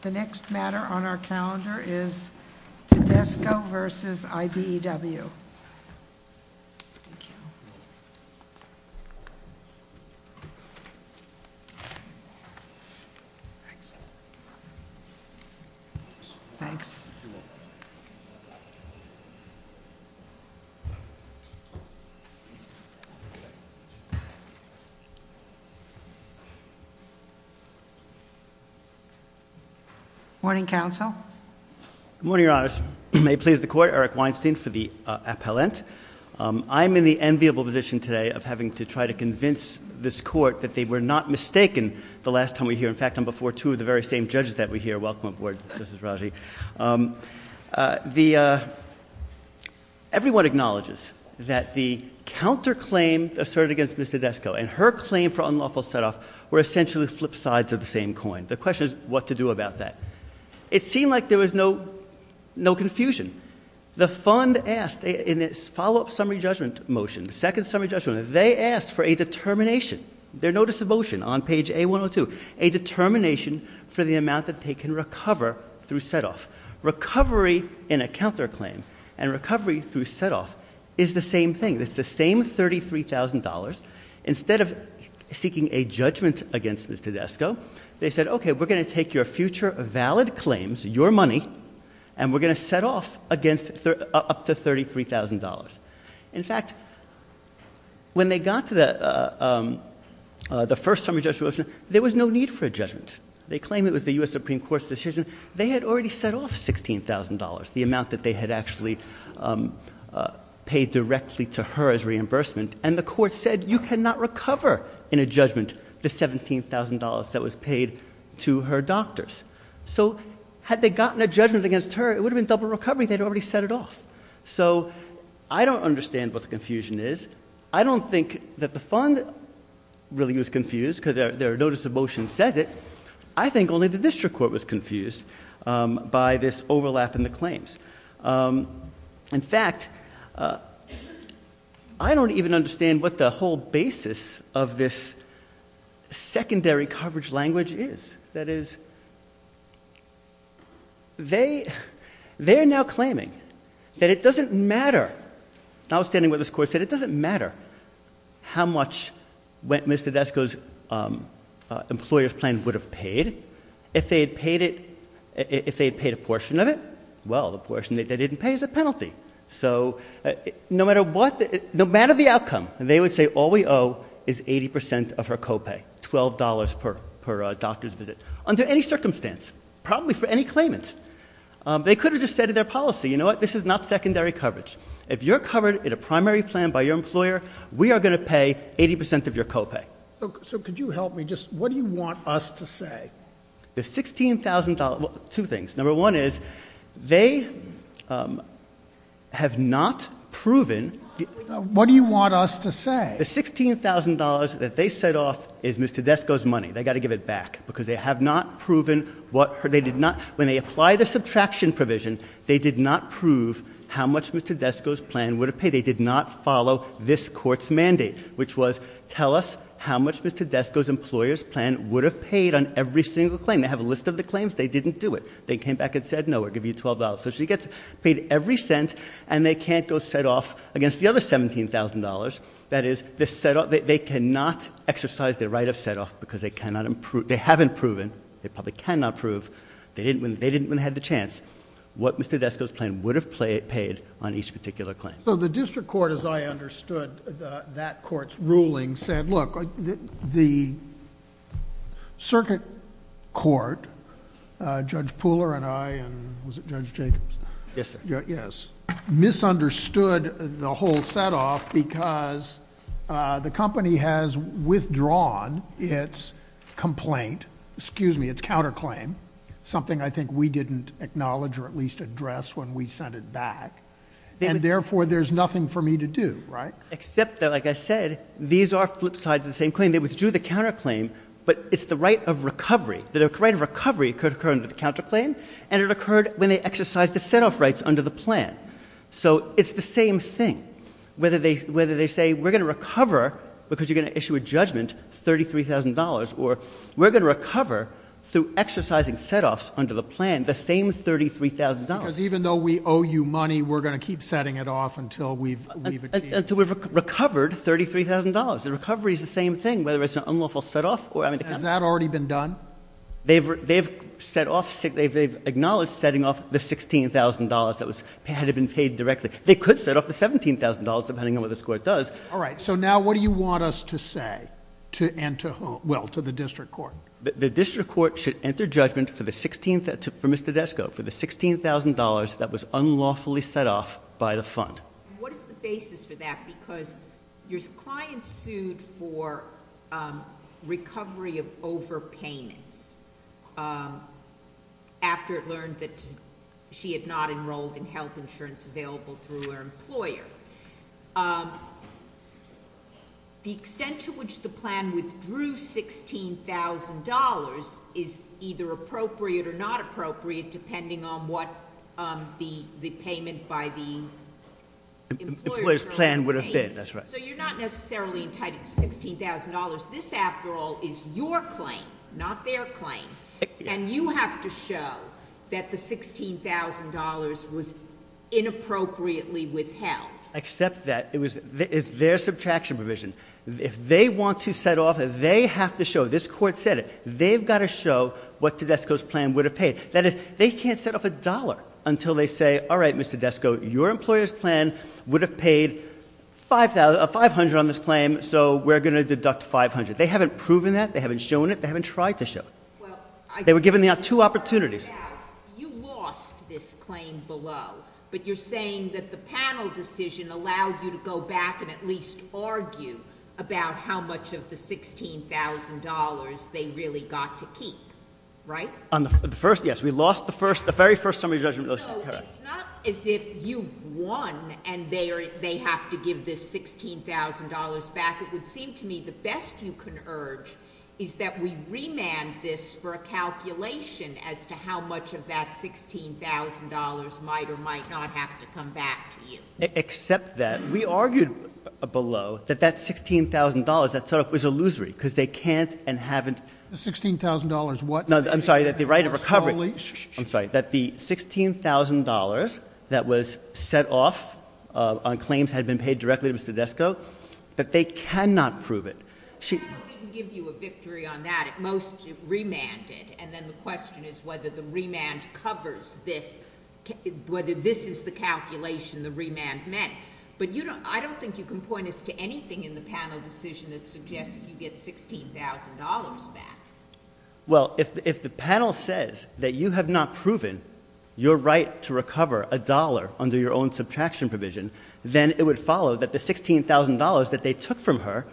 The next matter on our calendar is Tedesco v. I.B.E.W. Thanks. Good morning, counsel. Good morning, your honors. May it please the court, Eric Weinstein for the appellant. I'm in the enviable position today of having to try to convince this court that they were not mistaken the last time we were here. In fact, I'm before two of the very same judges that were here. Welcome aboard, Justice Raji. Everyone acknowledges that the counterclaim asserted against Ms. Tedesco and her claim for unlawful set-off were essentially flip sides of the same coin. The question is what to do about that. It seemed like there was no confusion. The fund asked in its follow-up summary judgment motion, second summary judgment, they asked for a determination, their notice of motion on page A-102, a determination for the amount that they can recover through set-off. Recovery in a counterclaim and recovery through set-off is the same thing. It's the same $33,000. Instead of seeking a judgment against Ms. Tedesco, they said, okay, we're going to take your future valid claims, your money, and we're going to set off up to $33,000. In fact, when they got to the first summary judgment motion, there was no need for a judgment. They claimed it was the U.S. Supreme Court's decision. They had already set off $16,000, the amount that they had actually paid directly to her as reimbursement. And the court said, you cannot recover in a judgment the $17,000 that was paid to her doctors. So had they gotten a judgment against her, it would have been double recovery. They'd already set it off. So I don't understand what the confusion is. I don't think that the fund really was confused, because their notice of motion says it. I think only the district court was confused by this overlap in the claims. In fact, I don't even understand what the whole basis of this secondary coverage language is. That is, they're now claiming that it doesn't matter. I was standing with this court, said it doesn't matter how much Mr. Tedesco's employer's plan would have paid if they had paid a portion of it. Well, the portion they didn't pay is a penalty. So no matter what, no matter the outcome, they would say all we owe is 80% of her co-pay. $12 per doctor's visit, under any circumstance, probably for any claimant. They could have just said in their policy, you know what, this is not secondary coverage. If you're covered in a primary plan by your employer, we are going to pay 80% of your co-pay. So could you help me just, what do you want us to say? The $16,000, two things. Number one is, they have not proven- What do you want us to say? The $16,000 that they set off is Mr. Tedesco's money. They gotta give it back, because they have not proven what, when they apply the subtraction provision, they did not prove how much Mr. Tedesco's plan would have paid. They did not follow this court's mandate, which was tell us how much Mr. Tedesco's plan would have paid on each single claim, they have a list of the claims, they didn't do it. They came back and said, no, we'll give you $12. So she gets paid every cent, and they can't go set off against the other $17,000. That is, they cannot exercise their right of set off, because they haven't proven, they probably cannot prove, they didn't when they had the chance, what Mr. Tedesco's plan would have paid on each particular claim. So the district court, as I understood that court's ruling, said, look, the circuit court, Judge Pooler and I, and was it Judge Jacobs? Yes, sir. Yes. Misunderstood the whole set off because the company has withdrawn its complaint, excuse me, its counterclaim, something I think we didn't acknowledge or at least address when we sent it back. And therefore, there's nothing for me to do, right? Except that, like I said, these are flip sides of the same claim. They withdrew the counterclaim, but it's the right of recovery. The right of recovery could occur under the counterclaim, and it occurred when they exercised the set off rights under the plan. So it's the same thing, whether they say, we're going to recover, because you're going to issue a judgment, $33,000, or we're going to recover through exercising set offs under the plan, the same $33,000. Because even though we owe you money, we're going to keep setting it off until we've achieved- Until we've recovered $33,000. The recovery's the same thing, whether it's an unlawful set off or having to- Has that already been done? They've acknowledged setting off the $16,000 that had been paid directly. They could set off the $17,000, depending on what this court does. All right, so now what do you want us to say, and to whom? Well, to the district court. The district court should enter judgment for Mr. Desco for the $16,000 that was unlawfully set off by the fund. What is the basis for that, because your client sued for recovery of overpayments after it learned that she had not enrolled in health insurance available through her employer. The extent to which the plan withdrew $16,000 is either appropriate or not appropriate, depending on what the payment by the employer's plan would have been. Employer's plan would have been, that's right. So you're not necessarily entitled to $16,000. This, after all, is your claim, not their claim. And you have to show that the $16,000 was inappropriately withheld. Except that it's their subtraction provision. If they want to set off, they have to show, this court said it, they've got to show what Tedesco's plan would have paid. That is, they can't set off a dollar until they say, all right, Mr. Desco, your employer's plan would have paid 500 on this claim, so we're going to deduct 500. They haven't proven that, they haven't shown it, they haven't tried to show it. They were given two opportunities. You lost this claim below, but you're saying that the panel decision allowed you to go back and at least argue about how much of the $16,000 they really got to keep, right? On the first, yes, we lost the very first summary judgment motion, correct. So it's not as if you've won and they have to give this $16,000 back. It would seem to me the best you can urge is that we remand this for a calculation as to how much of that $16,000 might or might not have to come back to you. Except that we argued below that that $16,000, that sort of was illusory, because they can't and haven't- The $16,000 what? No, I'm sorry, that the right of recovery. I'm sorry, that the $16,000 that was set off on claims had been paid directly to Mr. Francesco, but they cannot prove it. The panel didn't give you a victory on that, it most remanded. And then the question is whether the remand covers this, whether this is the calculation the remand meant. But I don't think you can point us to anything in the panel decision that suggests you get $16,000 back. Well, if the panel says that you have not proven your right to recover a dollar under your own subtraction provision, then it would follow that the $16,000 that they took from her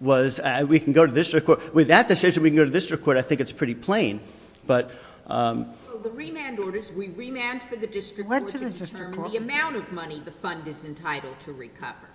was, we can go to district court. With that decision, we can go to district court, I think it's pretty plain. But- Well, the remand orders, we remanded for the district court to determine the amount of money the fund is entitled to recover.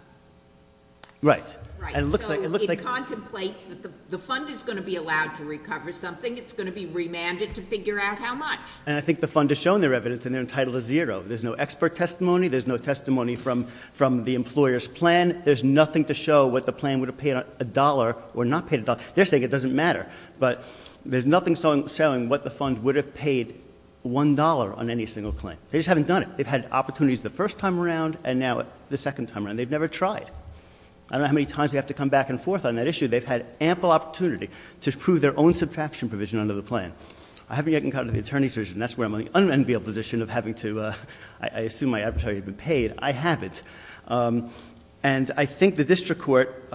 Right. And it looks like- It contemplates that the fund is going to be allowed to recover something, it's going to be remanded to figure out how much. And I think the fund has shown their evidence and they're entitled to zero. There's no expert testimony, there's no testimony from the employer's plan. There's nothing to show what the plan would have paid a dollar or not paid a dollar. They're saying it doesn't matter, but there's nothing showing what the fund would have paid $1 on any single claim. They just haven't done it. They've had opportunities the first time around and now the second time around. They've never tried. I don't know how many times they have to come back and forth on that issue. They've had ample opportunity to prove their own subtraction provision under the plan. I haven't yet gotten caught in the attorney's version. That's where I'm in the unenviable position of having to, I assume my arbitrary had been paid. I haven't. And I think the district court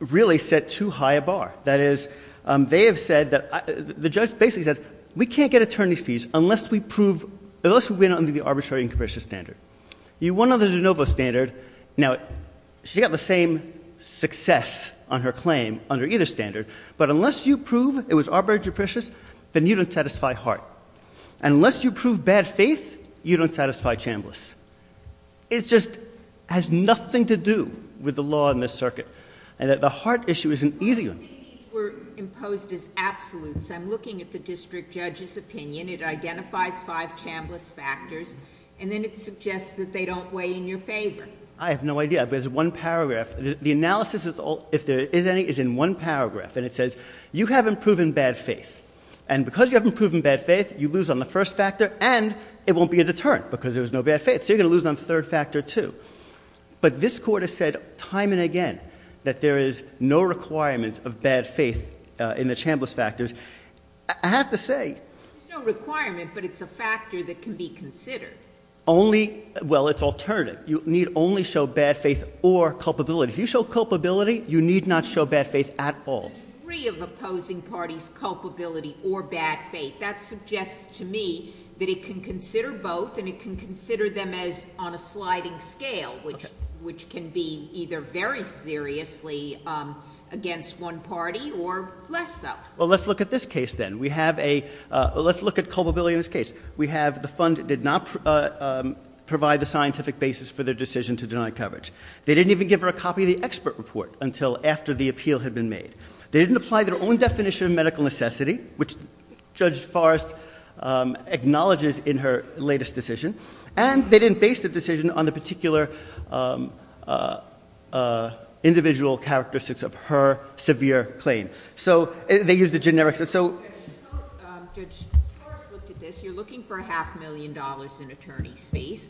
really set too high a bar. That is, they have said that, the judge basically said, we can't get attorney's fees unless we prove, unless we win under the arbitrary and comparison standard. You won under the de novo standard. Now, she got the same success on her claim under either standard. But unless you prove it was arbitrary depreciation, then you don't satisfy Hart. And unless you prove bad faith, you don't satisfy Chambliss. It just has nothing to do with the law in this circuit. And that the Hart issue is an easy one. These were imposed as absolutes. I'm looking at the district judge's opinion. It identifies five Chambliss factors. And then it suggests that they don't weigh in your favor. I have no idea. There's one paragraph. The analysis, if there is any, is in one paragraph. And it says, you haven't proven bad faith. And because you haven't proven bad faith, you lose on the first factor, and it won't be a deterrent because there's no bad faith. So you're going to lose on the third factor too. But this court has said time and again that there is no requirement of bad faith in the Chambliss factors. I have to say. There's no requirement, but it's a factor that can be considered. Only, well, it's alternative. You need only show bad faith or culpability. If you show culpability, you need not show bad faith at all. Three of opposing parties' culpability or bad faith. That suggests to me that it can consider both, and it can consider them as on a sliding scale, which can be either very seriously against one party or less so. Well, let's look at this case then. We have a, let's look at culpability in this case. We have the fund did not provide the scientific basis for their decision to deny coverage. They didn't even give her a copy of the expert report until after the appeal had been made. They didn't apply their own definition of medical necessity, which Judge Forrest acknowledges in her latest decision. And they didn't base the decision on the particular individual characteristics of her severe claim. So, they used the generic, so. So, Judge, Forrest looked at this. You're looking for a half million dollars in attorney's fees.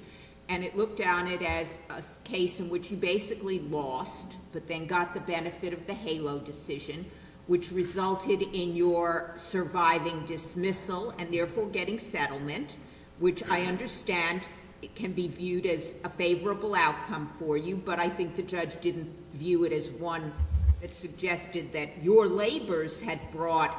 And it looked at it as a case in which you basically lost, but then got the benefit of the HALO decision, which resulted in your surviving dismissal and therefore getting settlement. Which I understand, it can be viewed as a favorable outcome for you, but I think the judge didn't view it as one that suggested that your labors had brought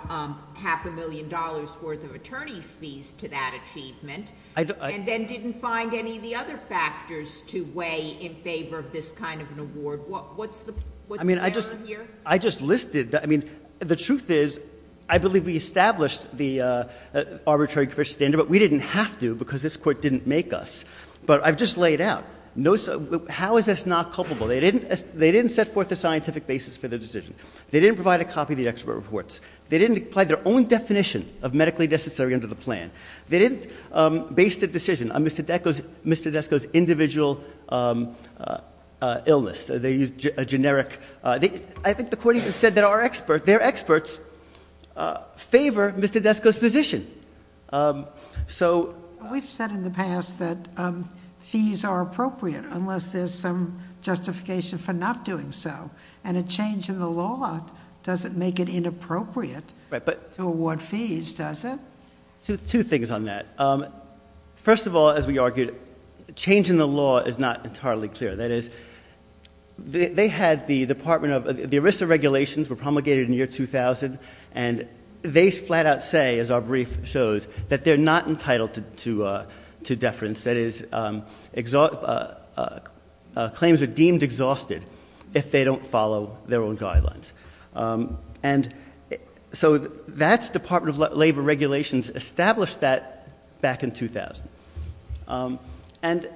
half a million dollars worth of attorney's fees to that achievement. And then didn't find any of the other factors to weigh in favor of this kind of an award. What's the, what's the error here? I just listed, I mean, the truth is, I believe we established the arbitrary standard, but we didn't have to because this court didn't make us, but I've just laid out. How is this not culpable? They didn't set forth a scientific basis for the decision. They didn't provide a copy of the expert reports. They didn't apply their own definition of medically necessary under the plan. They didn't base the decision on Mr. Desco's individual illness. They used a generic, I think the court even said that our expert, their experts favor Mr. Desco's position. So- We've said in the past that fees are appropriate unless there's some justification for not doing so. And a change in the law doesn't make it inappropriate to award fees, does it? Two things on that. First of all, as we argued, a change in the law is not entirely clear. That is, they had the department of, the ERISA regulations were promulgated in the year 2000. And they flat out say, as our brief shows, that they're not entitled to deference. That is, claims are deemed exhausted if they don't follow their own guidelines. And so that's Department of Labor regulations established that back in 2000. And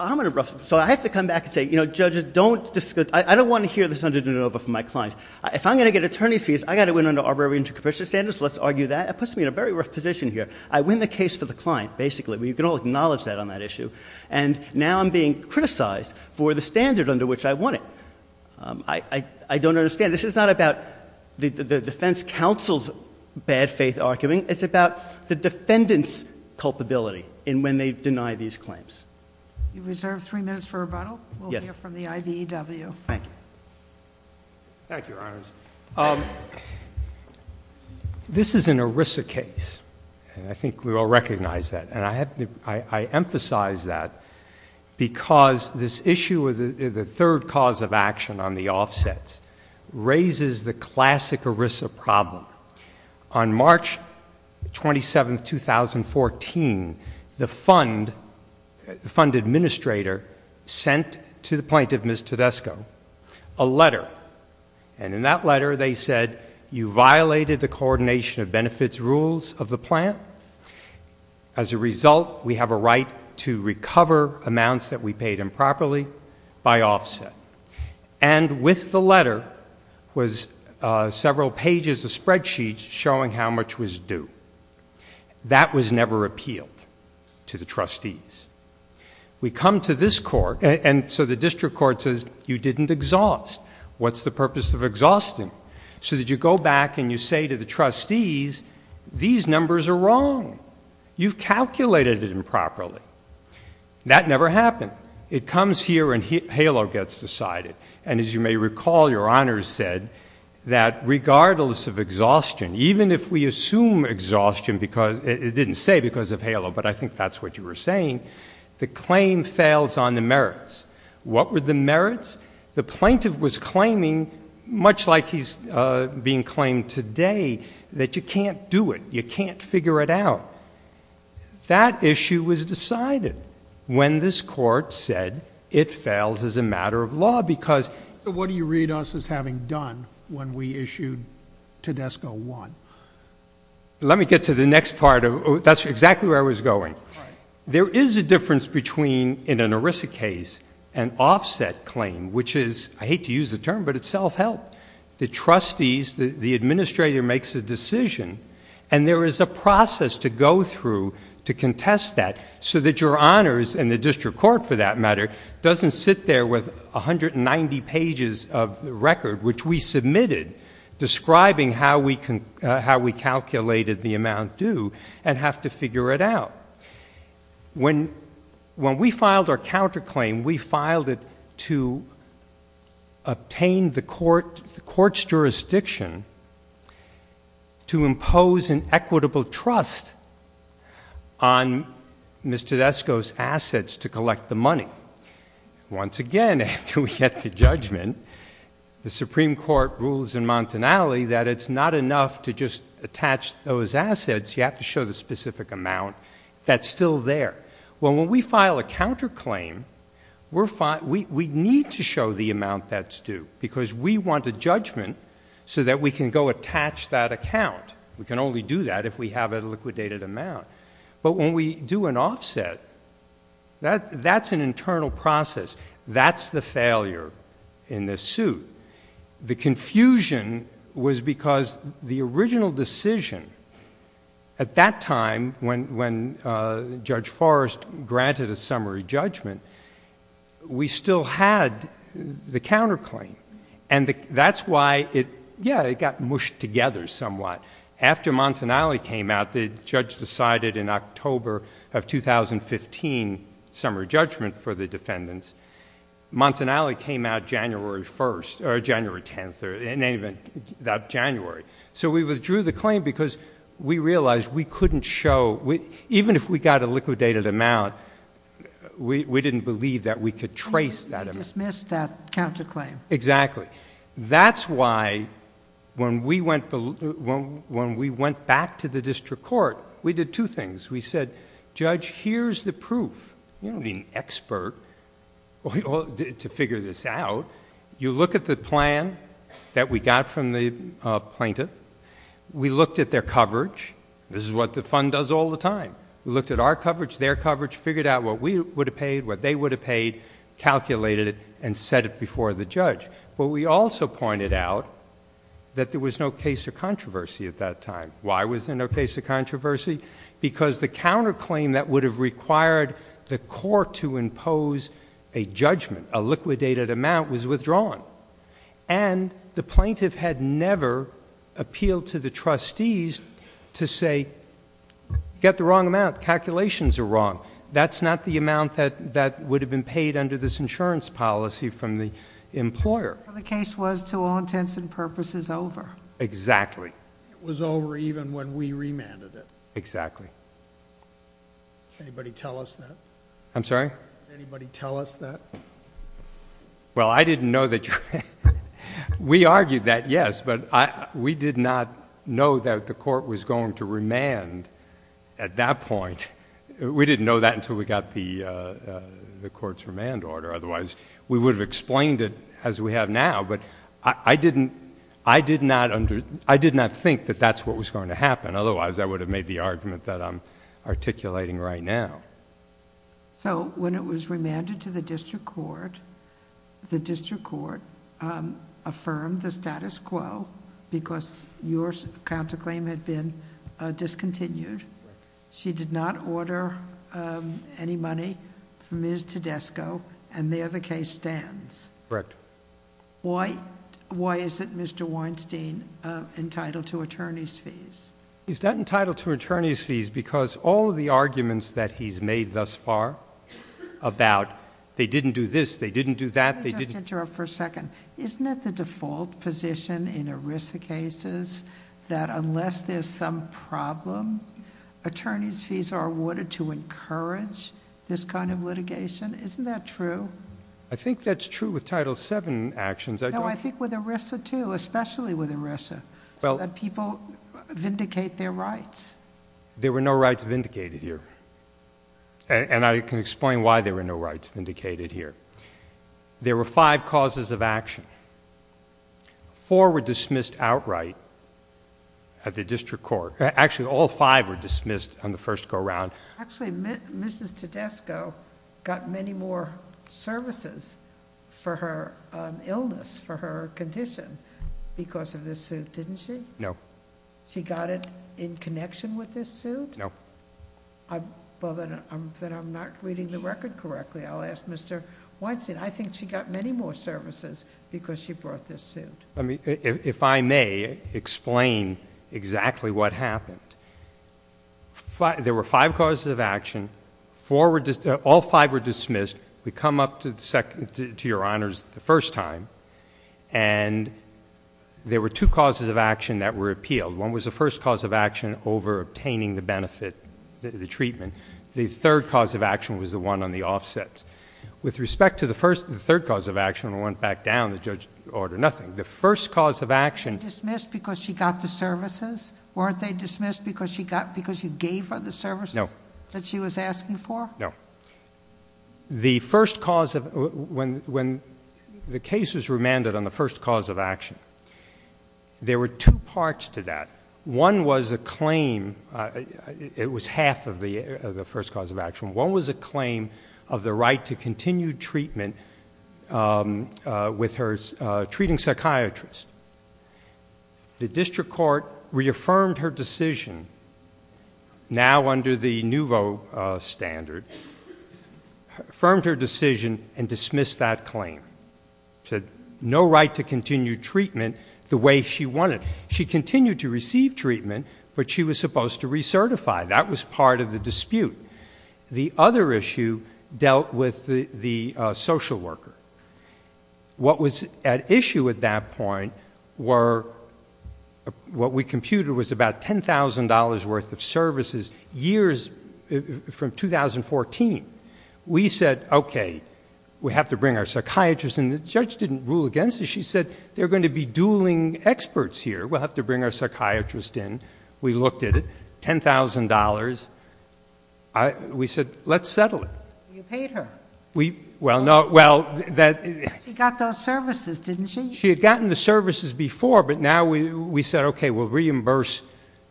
I'm going to, so I have to come back and say, judges don't discuss. I don't want to hear this under de novo from my client. If I'm going to get attorney's fees, I've got to win under arbitrary intercommission standards, so let's argue that. It puts me in a very rough position here. I win the case for the client, basically. We can all acknowledge that on that issue. And now I'm being criticized for the standard under which I won it. I don't understand. This is not about the defense counsel's bad faith arguing. It's about the defendant's culpability in when they deny these claims. You reserve three minutes for rebuttal. Yes. We'll hear from the IBEW. Thank you. Thank you, Your Honors. This is an ERISA case, and I think we all recognize that. And I emphasize that because this issue, the third cause of action on the offsets, raises the classic ERISA problem. On March 27th, 2014, the fund administrator sent to the plaintiff, Ms. Tedesco, a letter. And in that letter, they said, you violated the coordination of benefits rules of the plant. As a result, we have a right to recover amounts that we paid improperly by offset. And with the letter was several pages of spreadsheets showing how much was due. That was never appealed to the trustees. We come to this court, and so the district court says, you didn't exhaust. What's the purpose of exhausting? So that you go back and you say to the trustees, these numbers are wrong. You've calculated it improperly. That never happened. It comes here and HALO gets decided. And as you may recall, Your Honors said that regardless of exhaustion, even if we assume exhaustion because, it didn't say because of HALO, but I think that's what you were saying, the claim fails on the merits. What were the merits? The plaintiff was claiming, much like he's being claimed today, that you can't do it, you can't figure it out. That issue was decided when this court said it fails as a matter of law because. So what do you read us as having done when we issued Tedesco 1? Let me get to the next part of, that's exactly where I was going. There is a difference between, in an ERISA case, an offset claim, which is, I hate to use the term, but it's self-help. The trustees, the administrator makes a decision, and there is a process to go through to contest that, so that Your Honors, and the district court for that matter, doesn't sit there with 190 pages of record, which we submitted, describing how we calculated the amount due, and have to figure it out. When we filed our counterclaim, we filed it to obtain the court's jurisdiction to impose an equitable trust on Mr. Tedesco's assets to collect the money. Once again, after we get the judgment, the Supreme Court rules in Montanale that it's not enough to just attach those assets. You have to show the specific amount that's still there. Well, when we file a counterclaim, we need to show the amount that's due, because we want a judgment so that we can go attach that account. We can only do that if we have a liquidated amount. But when we do an offset, that's an internal process. That's the failure in this suit. The confusion was because the original decision, at that time, when Judge Forrest granted a summary judgment, we still had the counterclaim. And that's why it, yeah, it got mushed together somewhat. After Montanale came out, the judge decided in October of 2015, summary judgment for the defendants. Montanale came out January 1st, or January 10th, or in any event, that January. So we withdrew the claim because we realized we couldn't show, even if we got a liquidated amount, we didn't believe that we could trace that amount. He dismissed that counterclaim. Exactly. That's why when we went back to the district court, we did two things. We said, Judge, here's the proof. You don't need an expert to figure this out. You look at the plan that we got from the plaintiff. We looked at their coverage. This is what the fund does all the time. We looked at our coverage, their coverage, figured out what we would have paid, what they would have paid, calculated it, and set it before the judge. But we also pointed out that there was no case of controversy at that time. Why was there no case of controversy? Because the counterclaim that would have required the court to impose a judgment, a liquidated amount, was withdrawn. And the plaintiff had never appealed to the trustees to say, get the wrong amount, calculations are wrong. That's not the amount that would have been paid under this insurance policy from the employer. The case was, to all intents and purposes, over. Exactly. It was over even when we remanded it. Exactly. Can anybody tell us that? I'm sorry? Can anybody tell us that? Well, I didn't know that... We argued that, yes, but we did not know that the court was going to remand at that point. We didn't know that until we got the court's remand order. Otherwise, we would have explained it as we have now, but I did not think that that's what was going to happen. Otherwise, I would have made the argument that I'm articulating right now. So, when it was remanded to the district court, the district court affirmed the status quo because your counterclaim had been discontinued. She did not order any money from Ms. Tedesco, and there the case stands. Correct. Why is it Mr. Weinstein entitled to attorney's fees? He's not entitled to attorney's fees because all of the arguments that he's made thus far about they didn't do this, they didn't do that, they didn't- Let me just interrupt for a second. Isn't it the default position in ERISA cases that unless there's some problem, attorney's fees are awarded to encourage this kind of litigation? Isn't that true? I think that's true with Title VII actions. No, I think with ERISA too, especially with ERISA. So that people vindicate their rights. There were no rights vindicated here, and I can explain why there were no rights vindicated here. There were five causes of action. Four were dismissed outright at the district court. Actually, all five were dismissed on the first go around. Actually, Mrs. Tedesco got many more services for her illness, for her condition, because of this suit, didn't she? No. She got it in connection with this suit? No. Well, then I'm not reading the record correctly. I'll ask Mr. Weinstein. I think she got many more services because she brought this suit. If I may explain exactly what happened. There were five causes of action. All five were dismissed. We come up to your honors the first time, and there were two causes of action that were appealed. One was the first cause of action over obtaining the benefit, the treatment. The third cause of action was the one on the offsets. With respect to the third cause of action, we went back down, the judge ordered nothing. The first cause of action- Were they dismissed because she got the services? Weren't they dismissed because she gave her the services that she was asking for? No. When the case was remanded on the first cause of action, there were two parts to that. One was a claim, it was half of the first cause of action. One was a claim of the right to continue treatment with her treating psychiatrist. The district court reaffirmed her decision, now under the new vote standard, affirmed her decision and dismissed that claim. Said no right to continue treatment the way she wanted. She continued to receive treatment, but she was supposed to recertify. That was part of the dispute. The other issue dealt with the social worker. What was at issue at that point were what we computed was about $10,000 worth of services. Years from 2014, we said, okay, we have to bring our psychiatrist in. The judge didn't rule against it, she said, they're going to be dueling experts here. We'll have to bring our psychiatrist in. We looked at it, $10,000, we said, let's settle it. You paid her. We, well, no, well, that- She got those services, didn't she? She had gotten the services before, but now we said, okay, we'll reimburse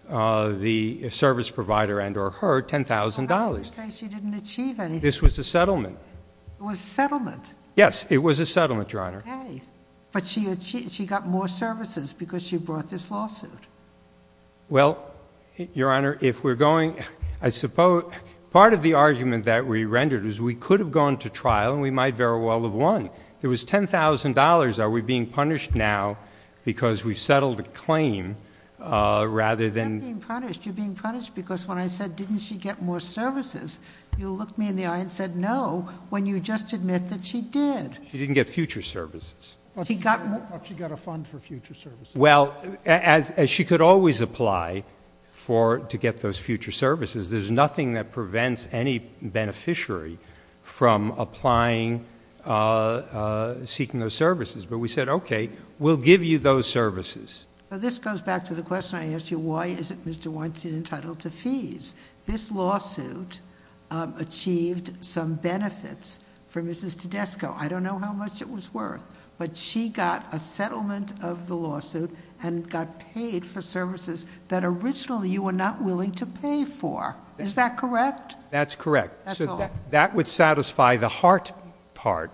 the service provider and or her $10,000. So how do you say she didn't achieve anything? This was a settlement. It was a settlement? Yes, it was a settlement, Your Honor. But she got more services because she brought this lawsuit. Well, Your Honor, if we're going, I suppose part of the argument that we rendered is we could have gone to trial and we might very well have won. It was $10,000, are we being punished now because we've settled the claim rather than- You're not being punished. You're being punished because when I said, didn't she get more services? You looked me in the eye and said no, when you just admit that she did. She didn't get future services. She got- I thought she got a fund for future services. Well, as she could always apply to get those future services, there's nothing that prevents any beneficiary from applying, seeking those services. But we said, okay, we'll give you those services. So this goes back to the question I asked you, why isn't Mr. Weinstein entitled to fees? This lawsuit achieved some benefits for Mrs. Tedesco. I don't know how much it was worth, but she got a settlement of the lawsuit and it got paid for services that originally you were not willing to pay for. Is that correct? That's correct. That's all. That would satisfy the heart part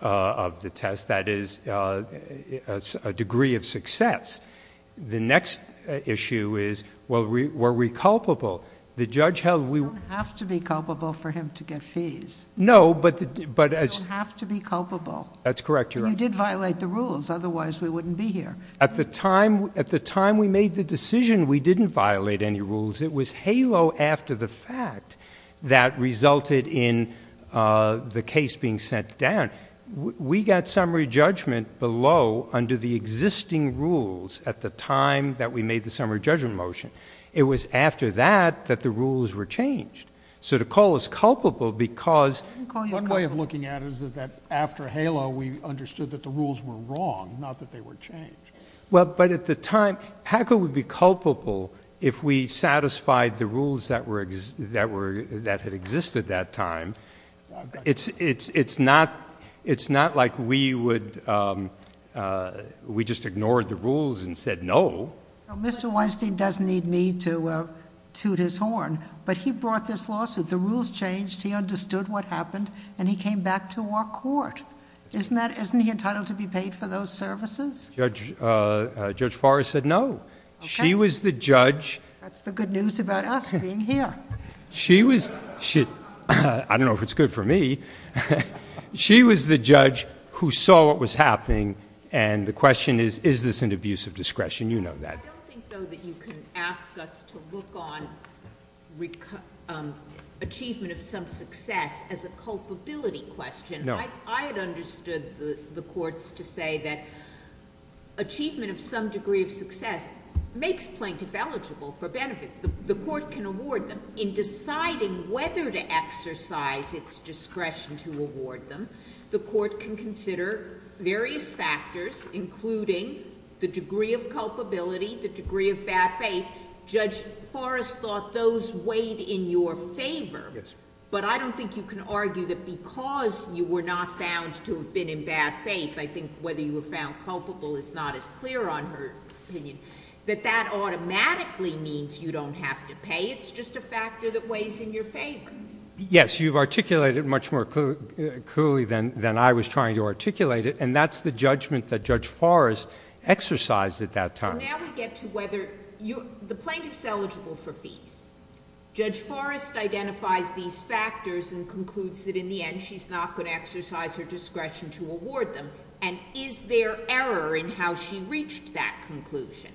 of the test, that is a degree of success. The next issue is, were we culpable? The judge held we- You don't have to be culpable for him to get fees. No, but as- You don't have to be culpable. That's correct, Your Honor. And you did violate the rules, otherwise we wouldn't be here. At the time we made the decision, we didn't violate any rules. It was HALO after the fact that resulted in the case being sent down. We got summary judgment below under the existing rules at the time that we made the summary judgment motion. It was after that that the rules were changed. So to call us culpable because- Well, but at the time, how could we be culpable if we satisfied the rules that had existed that time? It's not like we would, we just ignored the rules and said no. Mr. Weinstein doesn't need me to toot his horn, but he brought this lawsuit. The rules changed, he understood what happened, and he came back to our court. Isn't he entitled to be paid for those services? Judge Forrest said no. She was the judge- That's the good news about us being here. She was, I don't know if it's good for me, she was the judge who saw what was happening. And the question is, is this an abuse of discretion? You know that. I don't think, though, that you can ask us to look on achievement of some success as a culpability question. No. I had understood the courts to say that achievement of some degree of success makes plaintiff eligible for benefits. The court can award them. In deciding whether to exercise its discretion to award them, the court can consider various factors including the degree of culpability, the degree of bad faith. Judge Forrest thought those weighed in your favor. But I don't think you can argue that because you were not found to have been in bad faith, I think whether you were found culpable is not as clear on her opinion, that that automatically means you don't have to pay. It's just a factor that weighs in your favor. Yes, you've articulated it much more clearly than I was trying to articulate it, and that's the judgment that Judge Forrest exercised at that time. So now we get to whether, the plaintiff's eligible for fees. Judge Forrest identifies these factors and concludes that in the end she's not going to exercise her discretion to award them. And is there error in how she reached that conclusion?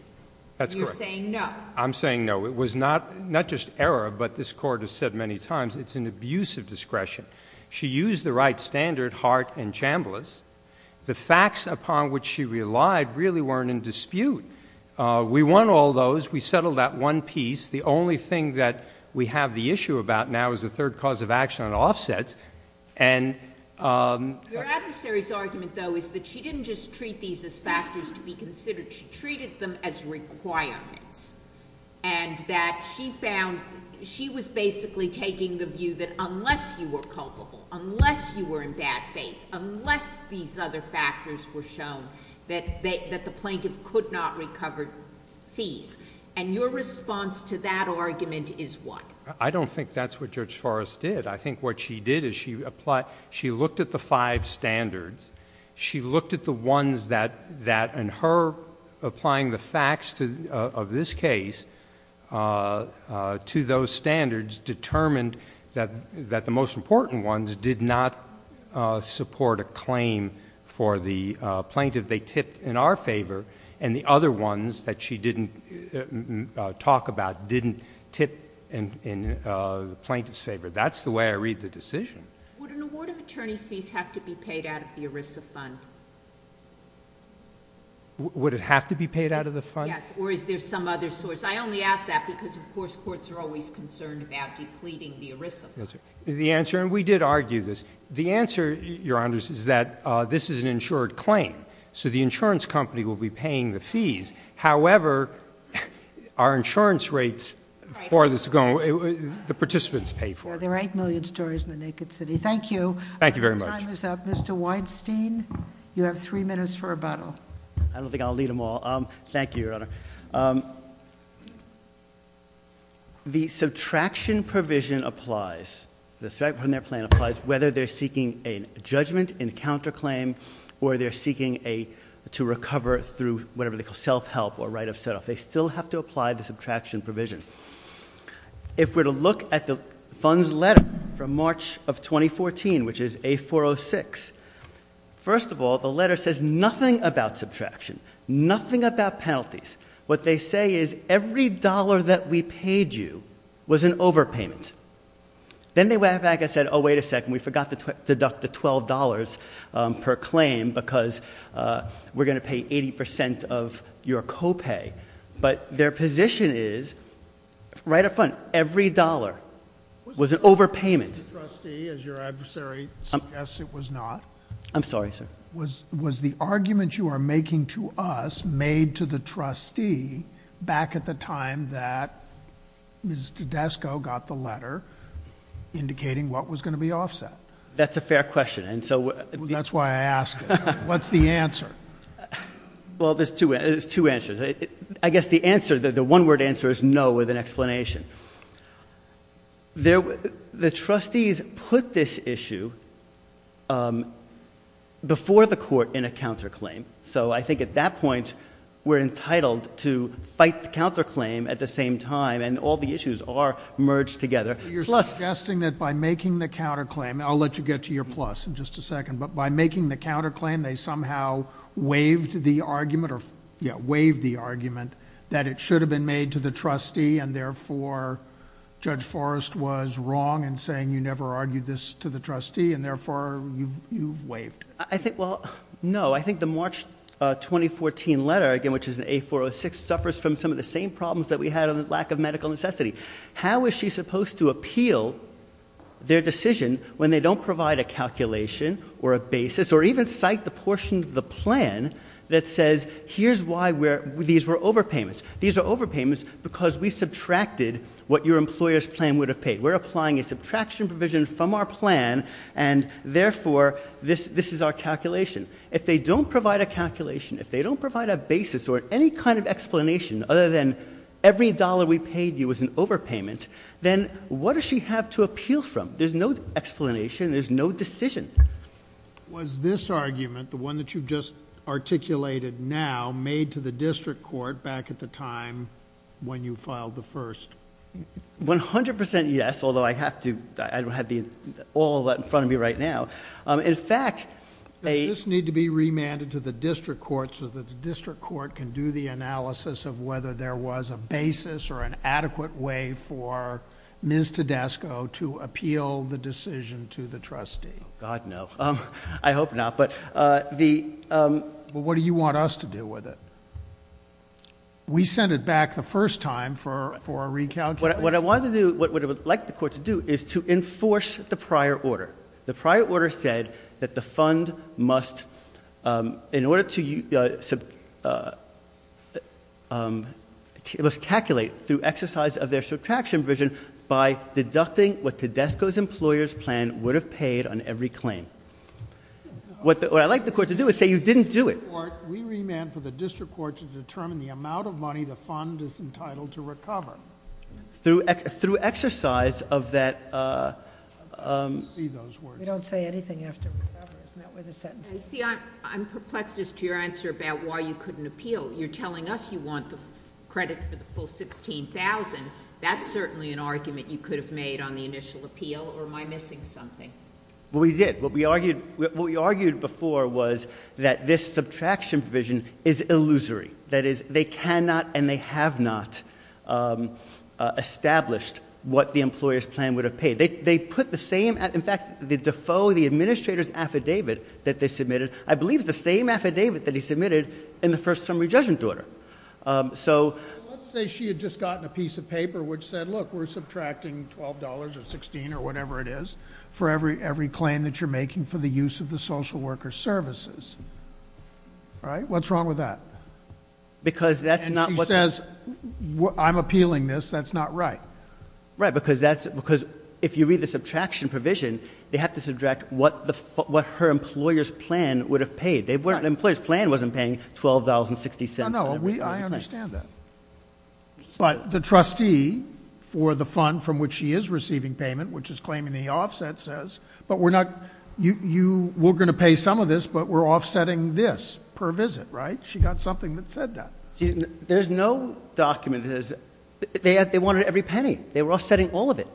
You're saying no. I'm saying no. It was not just error, but this court has said many times, it's an abuse of discretion. She used the right standard, Hart and Chambliss. The facts upon which she relied really weren't in dispute. We won all those. We settled that one piece. The only thing that we have the issue about now is the third cause of action on offsets. And- Your adversary's argument, though, is that she didn't just treat these as factors to be considered. She treated them as requirements. And that she found, she was basically taking the view that unless you were culpable, unless you were in bad faith, unless these other factors were shown, that the plaintiff could not recover fees. And your response to that argument is what? I don't think that's what Judge Forrest did. I think what she did is she looked at the five standards. She looked at the ones that, in her applying the facts of this case, to those standards, determined that the most important ones did not support a claim for the plaintiff they tipped in our favor. And the other ones that she didn't talk about didn't tip in the plaintiff's favor. That's the way I read the decision. Would an award of attorney's fees have to be paid out of the ERISA fund? Would it have to be paid out of the fund? Yes. Or is there some other source? I only ask that because, of course, courts are always concerned about depleting the ERISA fund. The answer, and we did argue this, the answer, Your Honors, is that this is an insured claim. So the insurance company will be paying the fees. However, our insurance rates, as far as it's going, the participants pay for it. Yeah, there are 8 million stories in the naked city. Thank you. Thank you very much. Time is up. Mr. Weinstein, you have three minutes for rebuttal. I don't think I'll need them all. Thank you, Your Honor. The subtraction provision applies. The subtraction from their plan applies whether they're seeking a judgment in counterclaim or they're seeking to recover through whatever they call self-help or right of set-off. They still have to apply the subtraction provision. If we're to look at the fund's letter from March of 2014, which is A406. First of all, the letter says nothing about subtraction, nothing about penalties. What they say is every dollar that we paid you was an overpayment. Then they went back and said, wait a second, we forgot to deduct the $12 per claim because we're going to pay 80% of your co-pay. But their position is, right up front, every dollar was an overpayment. Was it the trustee, as your adversary suggests it was not? I'm sorry, sir. Was the argument you are making to us made to the trustee back at the time that Ms. Tedesco got the letter indicating what was going to be offset? That's a fair question, and so- That's why I ask it. What's the answer? Well, there's two answers. I guess the one word answer is no with an explanation. The trustees put this issue before the court in a counterclaim. So I think at that point, we're entitled to fight the counterclaim at the same time, and all the issues are merged together. You're suggesting that by making the counterclaim, and I'll let you get to your plus in just a second. But by making the counterclaim, they somehow waived the argument that it should have been made to the trustee, and therefore, Judge Forrest was wrong in saying you never argued this to the trustee, and therefore, you waived. I think, well, no. I think the March 2014 letter, again, which is an A406, suffers from some of the same problems that we had on the lack of medical necessity. How is she supposed to appeal their decision when they don't provide a calculation or a basis, or even cite the portion of the plan that says, here's why these were overpayments. These are overpayments because we subtracted what your employer's plan would have paid. We're applying a subtraction provision from our plan, and therefore, this is our calculation. If they don't provide a calculation, if they don't provide a basis or any kind of explanation other than every dollar we paid you was an overpayment, then what does she have to appeal from? There's no explanation, there's no decision. Was this argument, the one that you've just articulated now, made to the district court back at the time when you filed the first? 100% yes, although I have to, I don't have all of that in front of me right now. In fact, a- This need to be remanded to the district court so that the district court can do the analysis of whether there was a basis or an adequate way for Ms. Tedesco to appeal the decision to the trustee. God no, I hope not, but the- But what do you want us to do with it? We sent it back the first time for a recalculation. What I wanted to do, what I would like the court to do, is to enforce the prior order. The prior order said that the fund must, in order to, it must calculate through exercise of their subtraction provision by deducting what Tedesco's employer's plan would have paid on every claim. What I'd like the court to do is say you didn't do it. We remand for the district court to determine the amount of money the fund is entitled to recover. Through exercise of that- I don't see those words. We don't say anything after recover, isn't that where the sentence is? I'm perplexed as to your answer about why you couldn't appeal. You're telling us you want the credit for the full 16,000. That's certainly an argument you could have made on the initial appeal, or am I missing something? We did, what we argued before was that this subtraction provision is illusory. That is, they cannot and they have not established what the employer's plan would have paid. They put the same, in fact, the Defoe, the administrator's affidavit that they submitted, I believe the same affidavit that he submitted in the first summary judgment order. So- Let's say she had just gotten a piece of paper which said, look, we're subtracting $12 or 16 or whatever it is for every claim that you're making for the use of the social worker services. All right, what's wrong with that? Because that's not what- And she says, I'm appealing this, that's not right. Right, because if you read the subtraction provision, they have to subtract what her employer's plan would have paid. The employer's plan wasn't paying $12.60. I understand that, but the trustee for the fund from which she is receiving payment, which is claiming the offset says, but we're going to pay some of this, but we're offsetting this per visit, right? She got something that said that. There's no document that says, they wanted every penny, they were offsetting all of it.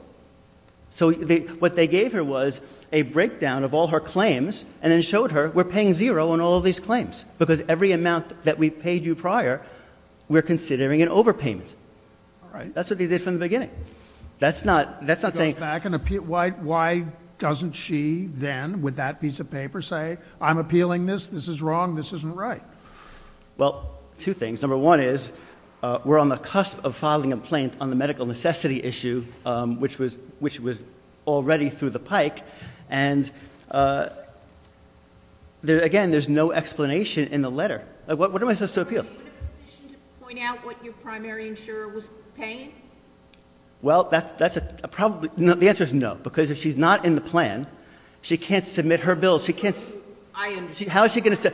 So what they gave her was a breakdown of all her claims, and then showed her, we're paying zero on all of these claims. Because every amount that we paid you prior, we're considering an overpayment. All right. That's what they did from the beginning. That's not saying- Why doesn't she then, with that piece of paper, say, I'm appealing this, this is wrong, this isn't right? Well, two things. Number one is, we're on the cusp of filing a complaint on the medical necessity issue, which was already through the pike. And again, there's no explanation in the letter. What am I supposed to appeal? Are you in a position to point out what your primary insurer was paying? Well, the answer is no, because if she's not in the plan, she can't submit her bill. She can't- I understand. How is she going to-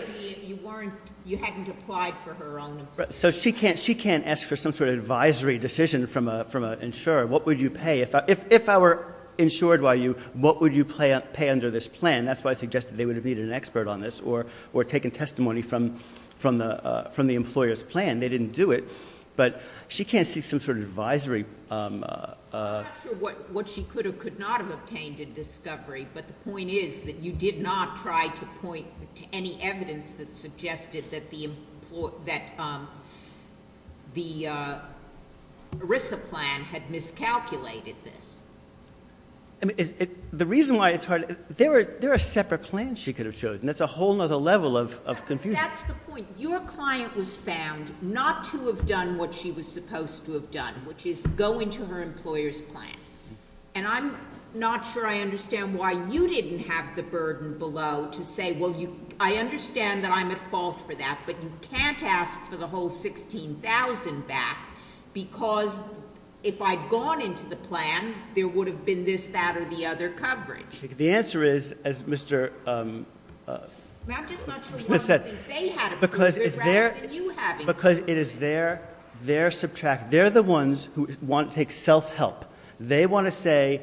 You hadn't applied for her own- So she can't ask for some sort of advisory decision from an insurer. What would you pay? If I were insured by you, what would you pay under this plan? That's why I suggested they would have needed an expert on this, or taken testimony from the employer's plan. They didn't do it. But she can't seek some sort of advisory- I'm not sure what she could or could not have obtained in discovery. But the point is that you did not try to point to any evidence that the ERISA plan had miscalculated this. The reason why it's hard, there are separate plans she could have chosen. That's a whole other level of confusion. That's the point. Your client was found not to have done what she was supposed to have done, which is go into her employer's plan. And I'm not sure I understand why you didn't have the burden below to say, well, I understand that I'm at fault for that, but you can't ask for the whole 16,000 back. Because if I'd gone into the plan, there would have been this, that, or the other coverage. The answer is, as Mr. Smith said- I'm just not sure why they had to believe it, rather than you having to believe it. Because it is their subtract, they're the ones who want to take self-help. They want to say,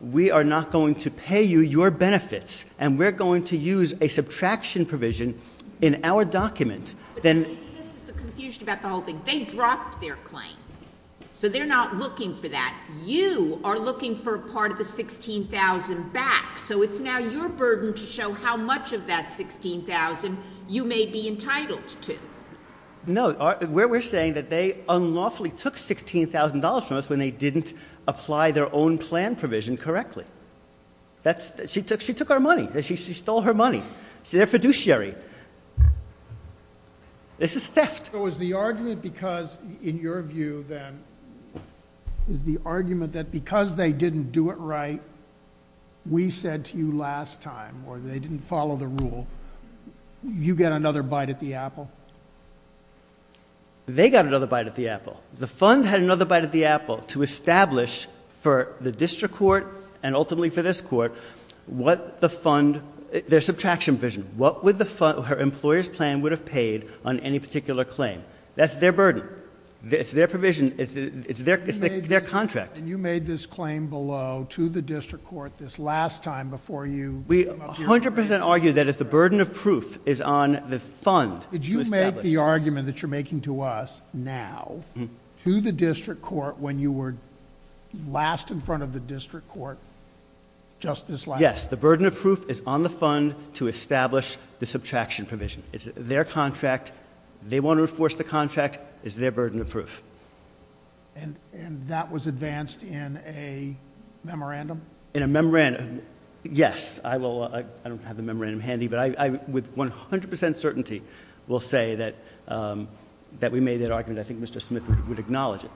we are not going to pay you your benefits. And we're going to use a subtraction provision in our document. Then- This is the confusion about the whole thing. They dropped their claim. So they're not looking for that. You are looking for a part of the 16,000 back. So it's now your burden to show how much of that 16,000 you may be entitled to. No, we're saying that they unlawfully took $16,000 from us when they didn't apply their own plan provision correctly. She took our money. She stole her money. See, they're fiduciary. This is theft. So is the argument because, in your view then, is the argument that because they didn't do it right, we said to you last time, or they didn't follow the rule, you get another bite at the apple? They got another bite at the apple. The fund had another bite at the apple to establish for the district court and ultimately for this court, what the fund, their subtraction provision. What would the fund, her employer's plan would have paid on any particular claim? That's their burden. It's their provision. It's their contract. And you made this claim below to the district court this last time before you- We 100% argue that it's the burden of proof is on the fund. Did you make the argument that you're making to us now to the district court when you were last in front of the district court just this last time? Yes, the burden of proof is on the fund to establish the subtraction provision. It's their contract. They want to enforce the contract. It's their burden of proof. And that was advanced in a memorandum? In a memorandum, yes. I don't have the memorandum handy, but I would 100% certainty will say that we made that argument. I think Mr. Smith would acknowledge it,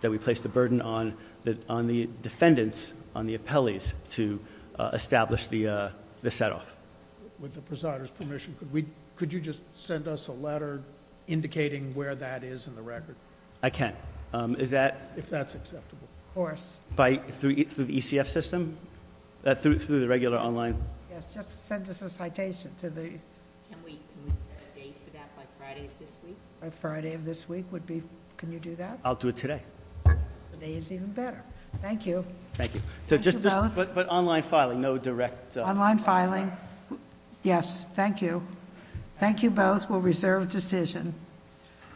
that we placed the burden on the defendants, on the appellees to establish the set off. With the presider's permission, could you just send us a letter indicating where that is in the record? I can. Is that- If that's acceptable. Of course. By through the ECF system? Through the regular online? Yes, just send us a citation to the- Can we set a date for that by Friday of this week? By Friday of this week would be, can you do that? I'll do it today. Today is even better. Thank you. Thank you. So just, but online filing, no direct- Online filing. Yes, thank you. Thank you both. We'll reserve decision.